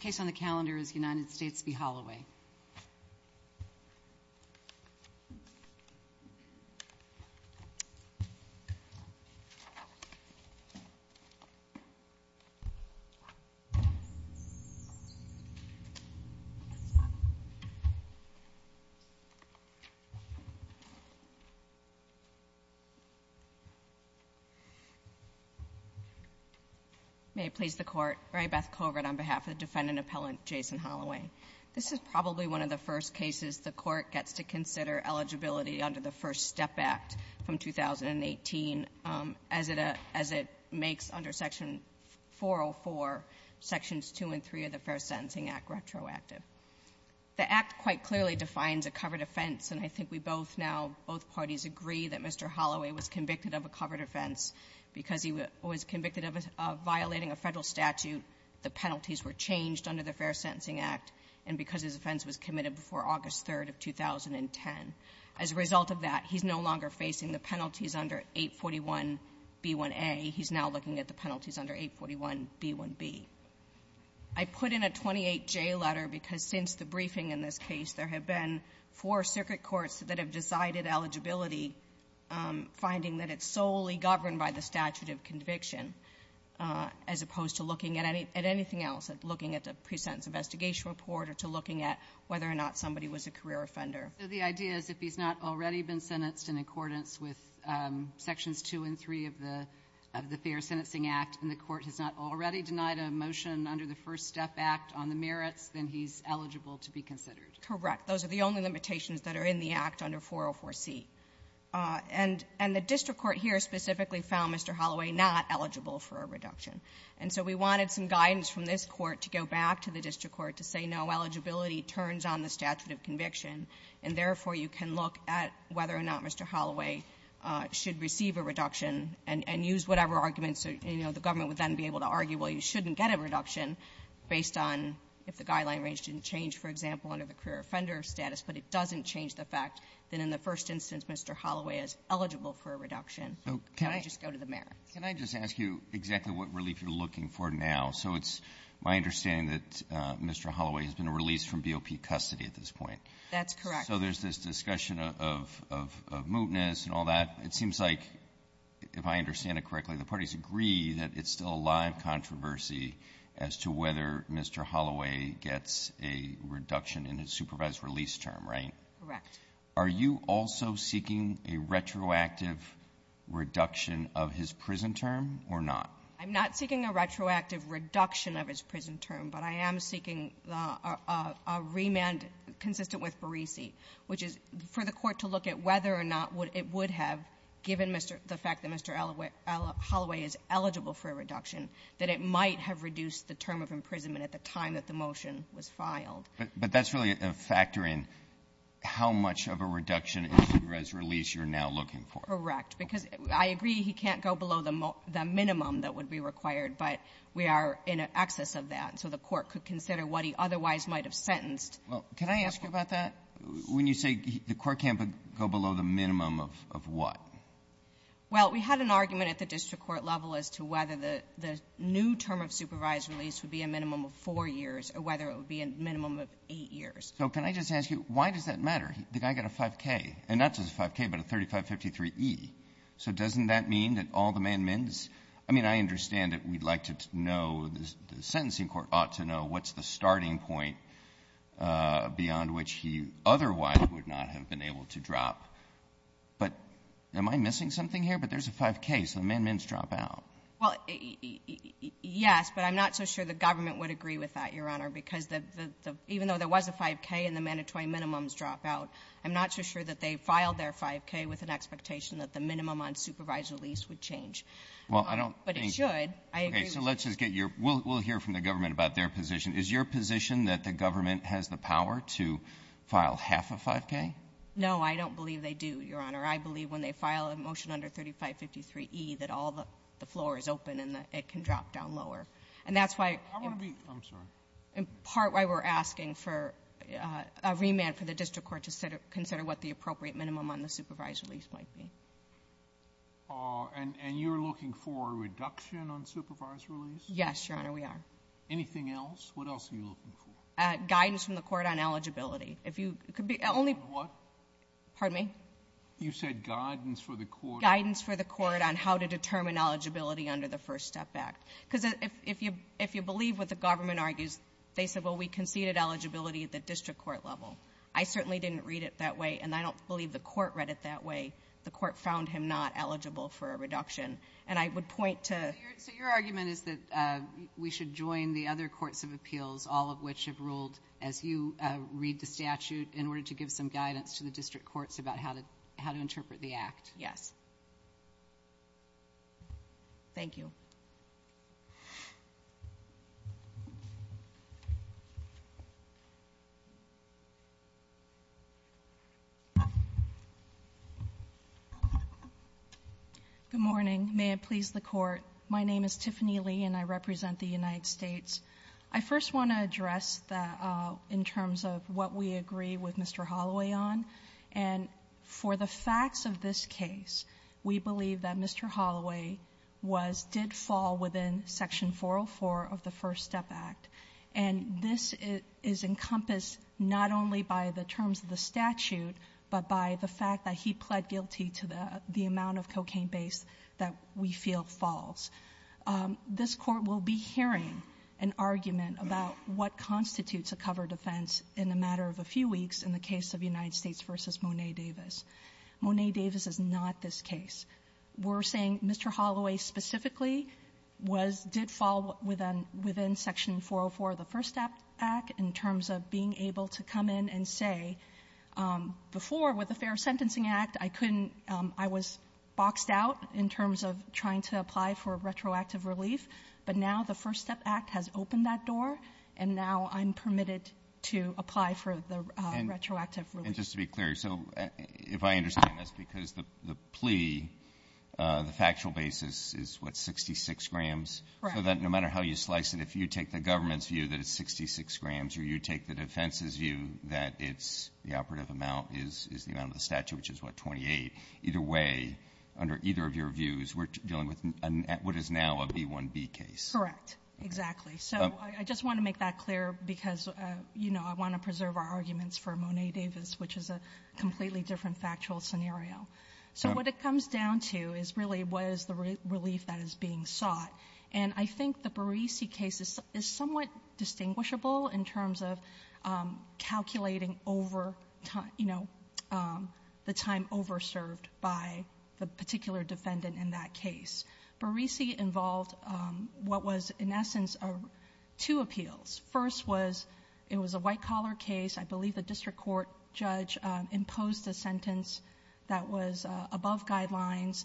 The first case on the calendar is United States v. Holloway. This is probably one of the first cases the court gets to consider eligibility under the Fair Sentencing Act retroactive. The Act quite clearly defines a covered offense. And I think we both now, both parties agree that Mr. Holloway was convicted of a covered offense because he was convicted of violating a Federal statute. The penalties were changed under the Fair Sentencing Act, and because his offense was committed before August 3rd of 2010. As a result of that, he's no longer facing the penalties under 841b1a. He's now looking at the penalties under 841b1b. I put in a 28J letter because since the briefing in this case, there have been four circuit courts that have decided eligibility, finding that it's solely governed by the statute of conviction, as opposed to looking at any at anything else, looking at the pre-sentence investigation report or to looking at whether or not somebody was a career offender. So the idea is if he's not already been sentenced in accordance with Sections 2 and 3 of the Fair Sentencing Act, and the Court has not already denied a motion under the First Step Act on the merits, then he's eligible to be considered. Correct. Those are the only limitations that are in the Act under 404c. And the district court here specifically found Mr. Holloway not eligible for a reduction. And so we wanted some guidance from this Court to go back to the district court to say, no, eligibility turns on the statute of conviction, and therefore, you can look at whether or not Mr. Holloway should receive a reduction and use whatever arguments or, you know, the government would then be able to argue, well, you shouldn't get a reduction based on if the guideline range didn't change, for example, under the career offender status, but it doesn't change the fact that in the first instance, Mr. Holloway is eligible for a reduction. So can I just go to the merits? Can I just ask you exactly what relief you're looking for now? So it's my understanding that Mr. Holloway has been released from BOP custody at this point. That's correct. So there's this discussion of mootness and all that. It seems like, if I understand it correctly, the parties agree that it's still a live controversy as to whether Mr. Holloway gets a reduction in his supervised release term, right? Correct. Are you also seeking a retroactive reduction of his prison term or not? I'm not seeking a retroactive reduction of his prison term, but I am seeking a remand consistent with Beresey, which is for the Court to look at whether or not it would have, given the fact that Mr. Holloway is eligible for a reduction, that it might have reduced the term of imprisonment at the time that the motion was filed. But that's really a factor in how much of a reduction in supervised release you're now looking for. Correct. Because I agree he can't go below the minimum that would be required, but we are in a situation where he otherwise might have sentenced. Well, can I ask you about that? When you say the Court can't go below the minimum of what? Well, we had an argument at the district court level as to whether the new term of supervised release would be a minimum of 4 years or whether it would be a minimum of 8 years. So can I just ask you, why does that matter? The guy got a 5K, and not just a 5K, but a 3553e. So doesn't that mean that all the man-mends? I mean, I understand that we'd like to know, the sentencing court ought to know, what's the starting point beyond which he otherwise would not have been able to drop. But am I missing something here? But there's a 5K, so the man-mends drop out. Well, yes, but I'm not so sure the government would agree with that, Your Honor, because the — even though there was a 5K and the mandatory minimums drop out, I'm not so sure that they filed their 5K with an expectation that the minimum on supervised release would change. Well, I don't think — Well, they should. I agree with you. Okay. So let's just get your — we'll hear from the government about their position. Is your position that the government has the power to file half a 5K? No, I don't believe they do, Your Honor. I believe when they file a motion under 3553e that all the floor is open and that it can drop down lower. And that's why — I want to be — I'm sorry. In part, why we're asking for a remand for the district court to consider what the appropriate minimum on the supervised release might be. And you're looking for a reduction on supervised release? Yes, Your Honor, we are. Anything else? What else are you looking for? Guidance from the court on eligibility. If you — it could be only — On what? Pardon me? You said guidance for the court. Guidance for the court on how to determine eligibility under the First Step Act. Because if you — if you believe what the government argues, they said, well, we conceded eligibility at the district court level. I certainly didn't read it that way, and I don't believe the court read it that way. The court found him not eligible for a reduction. And I would point to — So your argument is that we should join the other courts of appeals, all of which have ruled, as you read the statute, in order to give some guidance to the district courts about how to — how to interpret the act? Yes. Thank you. Good morning. May it please the Court. My name is Tiffany Lee, and I represent the United States. I first want to address the — in terms of what we agree with Mr. Holloway on. And for the facts of this case, we believe that Mr. Holloway was — did fall within Section 404 of the First Step Act. And this is encompassed not only by the terms of the to the — the amount of cocaine base that we feel falls. This Court will be hearing an argument about what constitutes a covered offense in a matter of a few weeks in the case of United States v. Monet Davis. Monet Davis is not this case. We're saying Mr. Holloway specifically was — did fall within — within Section 404 of the First Step Act in terms of being able to come and say, before, with the Fair Sentencing Act, I couldn't — I was boxed out in terms of trying to apply for retroactive relief. But now the First Step Act has opened that door, and now I'm permitted to apply for the retroactive relief. And just to be clear, so if I understand this, because the plea, the factual basis is, what, 66 grams? Correct. So that no matter how you slice it, if you take the government's view that it's 66 grams, or you take the defense's view that it's — the operative amount is — is the amount of the statute, which is, what, 28, either way, under either of your views, we're dealing with what is now a B-1B case. Correct. Exactly. So I just want to make that clear because, you know, I want to preserve our arguments for Monet Davis, which is a completely different factual scenario. So what it comes down to is really what is the relief that is being sought. And I think the Barisi case is somewhat distinguishable in terms of calculating over time — you know, the time over-served by the particular defendant in that case. Barisi involved what was, in essence, two appeals. First was — it was a white-collar case. I believe the district court judge imposed a sentence that was above guidelines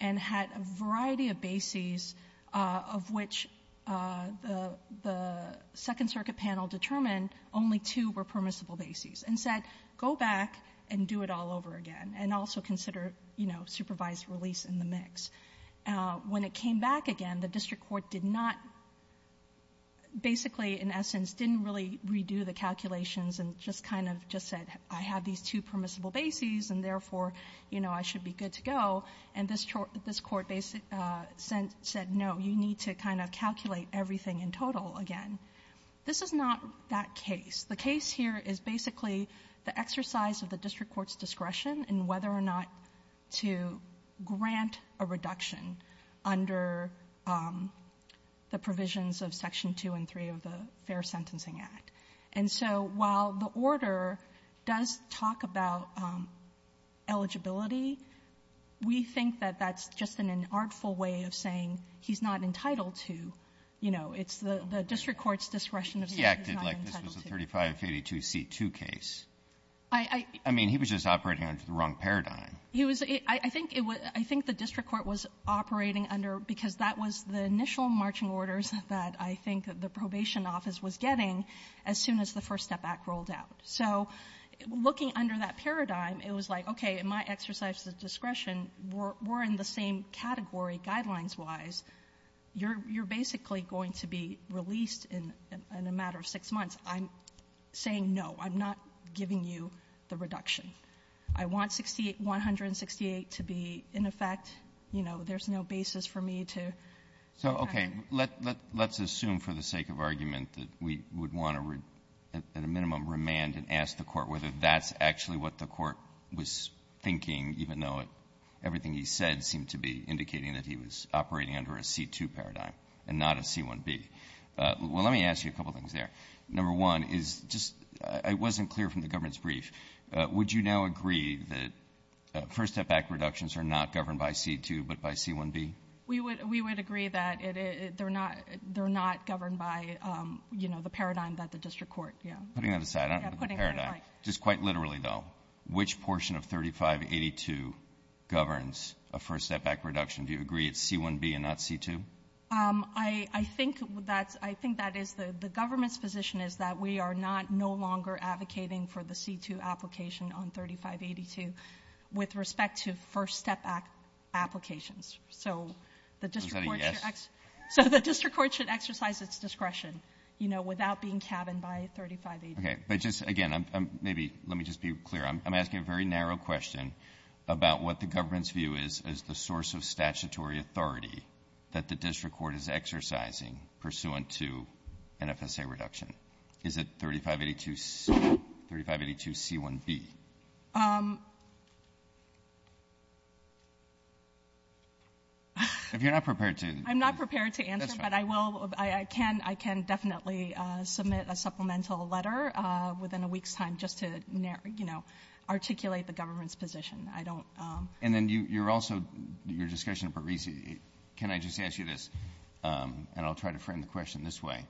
and had a variety of bases of which the Second Circuit panel determined only two were permissible bases and said, go back and do it all over again, and also consider, you know, supervised release in the mix. When it came back again, the district court did not — basically, in essence, didn't really redo the calculations and just kind of just said, I have these two bases and this court basically said, no, you need to kind of calculate everything in total again. This is not that case. The case here is basically the exercise of the district court's discretion in whether or not to grant a reduction under the provisions of Section 2 and 3 of the Fair Sentencing Act. And so while the order does talk about eligibility, we think that that's just an inartful way of saying he's not entitled to, you know, it's the district court's discretion of saying he's not entitled to. Breyer. He acted like this was a 3582c2 case. Barisi. I — Breyer. I mean, he was just operating under the wrong paradigm. Barisi. He was — I think it was — I think the district court was operating under — because that was the initial marching orders that I think the probation office was getting as soon as the First Step Act rolled out. So looking under that in my exercise of discretion, we're in the same category guidelines-wise. You're basically going to be released in a matter of six months. I'm saying no. I'm not giving you the reduction. I want 168 to be in effect. You know, there's no basis for me to — Roberts. So, okay. Let's assume for the sake of argument that we would want to, at a minimum, remand and ask the Court whether that's actually what the Court was thinking, even though everything he said seemed to be indicating that he was operating under a c2 paradigm and not a c1b. Well, let me ask you a couple things there. Number one is just — I wasn't clear from the government's brief. Would you now agree that First Step Act reductions are not governed by c2 but by c1b? Barisi. We would — we would agree that it — they're not — they're not governed by c2. I'm just putting that aside. I don't have a paradigm. Yeah, putting it aside. Just quite literally, though, which portion of 3582 governs a First Step Act reduction? Do you agree it's c1b and not c2? I think that's — I think that is the government's position is that we are not no longer advocating for the c2 application on 3582 with respect to First Step Act applications. So the district court should exercise its discretion, you know, without being cabined by 3582. Okay. But just, again, I'm — maybe — let me just be clear. I'm asking a very narrow question about what the government's view is as the source of statutory authority that the district court is exercising pursuant to an FSA reduction. Is it 3582 — 3582c1b? If you're not prepared to — I'm not prepared to answer, but I will — I can — I can definitely submit a supplement to a letter within a week's time just to, you know, articulate the government's position. I don't — And then you're also — your discussion of Parisi, can I just ask you this, and I'll try to frame the question this way.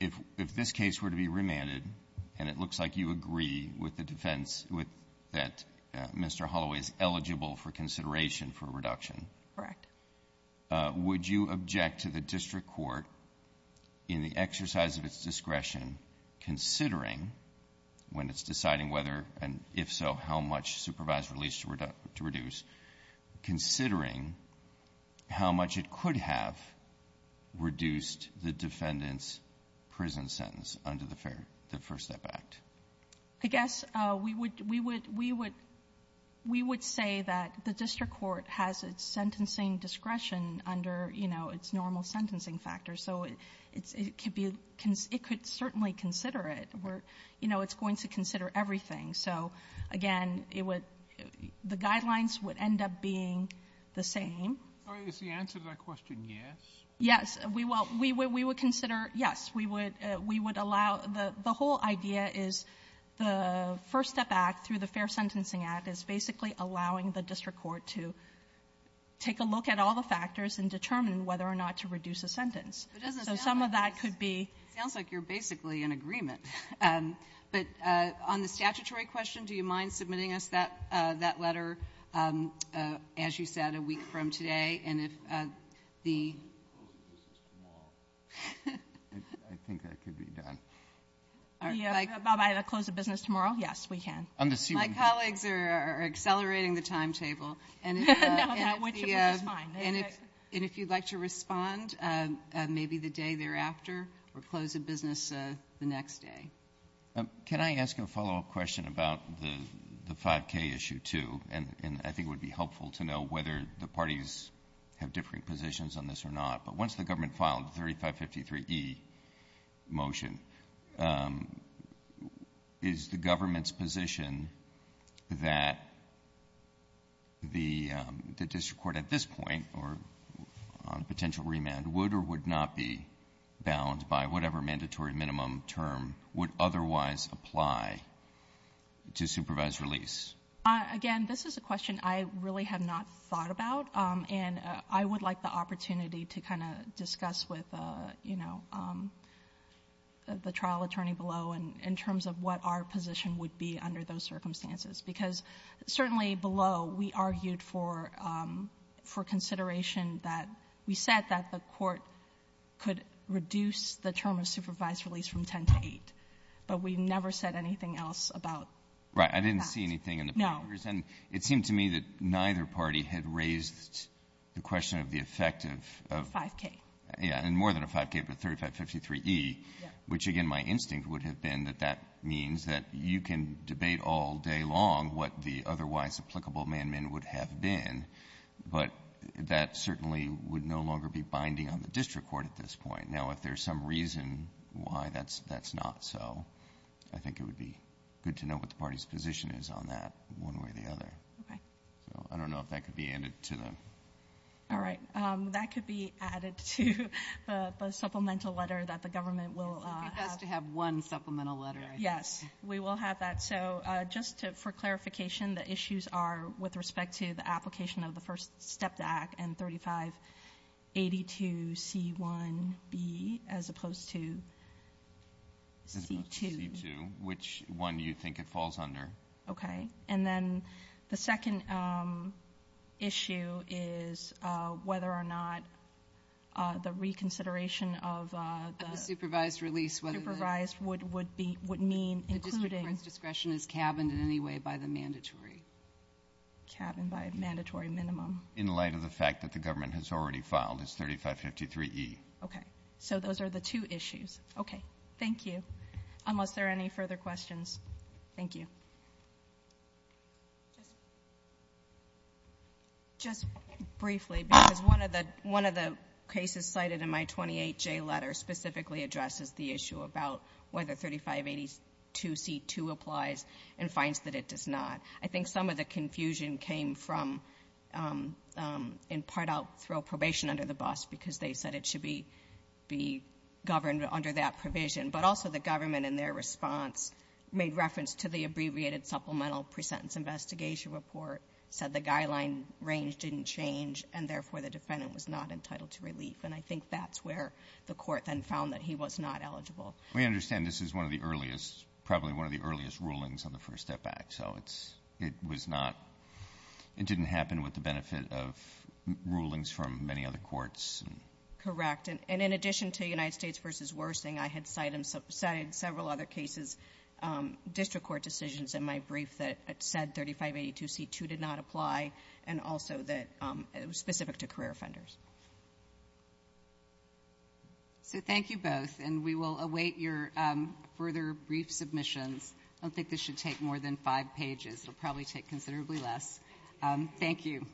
If this case were to be remanded and it looks like you agree with the defense with — that Mr. Holloway is eligible for consideration for a reduction — Correct. Would you object to the district court, in the exercise of its discretion, considering, when it's deciding whether, and if so, how much supervisory release to reduce, considering how much it could have reduced the defendant's prison sentence under the Fair — the First Step Act? I guess we would — we would — we would — we would say that the district court has its sentencing discretion under, you know, its normal sentencing factors, so it could be — it could certainly consider it. We're — you know, it's going to consider everything. So, again, it would — the guidelines would end up being the same. All right. Is the answer to that question yes? Yes. We will — we would consider yes. We would — we would allow — the whole idea is the First Step Act, through the Fair Act, is to take a look at all the factors and determine whether or not to reduce a sentence. So some of that could be — It doesn't sound like — it sounds like you're basically in agreement. But on the statutory question, do you mind submitting us that — that letter, as you said, a week from today? And if the — I think that could be done. Bob, I have to close the business tomorrow? Yes, we can. My colleagues are accelerating the timetable. No, that would be fine. And if — and if you'd like to respond, maybe the day thereafter, or close the business the next day. Can I ask a follow-up question about the — the 5K issue, too? And I think it would be helpful to know whether the parties have differing positions on this or not. But once the government filed the 3553E motion, is the government's position that the district court at this point, or on a potential remand, would or would not be bound by whatever mandatory minimum term would otherwise apply to supervised release? Again, this is a question I really have not thought about, and I would like the opportunity to kind of discuss with, you know, the trial attorney below, in terms of what our position would be under those circumstances. Because certainly below, we argued for — for consideration that — we said that the court could reduce the term of supervised release from 10 to 8, but we never said anything else about that. I didn't see anything in the papers. No. And it seemed to me that neither party had raised the question of the effect of — Of 5K. Yeah. And more than a 5K, but 3553E, which, again, my instinct would have been that that means that you can debate all day long what the otherwise applicable amendment would have been, but that certainly would no longer be binding on the district court at this point. Now, if there's some reason why that's — that's not so, I think it would be good to know what the party's position is on that, one way or the other. Okay. So, I don't know if that could be added to the — All right. That could be added to the supplemental letter that the government will — It's a good guess to have one supplemental letter, I think. Yes. We will have that. So, just for clarification, the issues are, with respect to the application of the first STEP Act and 3582C1B, as opposed to C2. As opposed to C2. Which one do you think it falls under? Okay. And then the second issue is whether or not the reconsideration of the — Of the supervised release, whether the — Supervised would be — would mean including — The district court's discretion is cabined in any way by the mandatory. Cabined by a mandatory minimum. In light of the fact that the government has already filed as 3553E. Okay. So, those are the two issues. Okay. Thank you. Unless there are any further questions. Thank you. Just briefly, because one of the cases cited in my 28J letter specifically addresses the issue about whether 3582C2 applies and finds that it does not. I think some of the confusion came from — In part, I'll throw probation under the bus because they said it should be governed under that provision. But also, the government, in their response, made reference to the abbreviated supplemental pre-sentence investigation report, said the guideline range didn't change, and therefore, the defendant was not entitled to relief. And I think that's where the court then found that he was not eligible. We understand this is one of the earliest — probably one of the earliest rulings on the First Step Act, so it's — it was not — it didn't happen with the benefit of rulings from many other courts. Correct. And in addition to United States v. Worsing, I had cited several other cases, district court decisions in my brief that said 3582C2 did not apply, and also that — specific to career offenders. So thank you both, and we will await your further brief submissions. I don't think this should take more than five pages. It'll probably take considerably less. Thank you.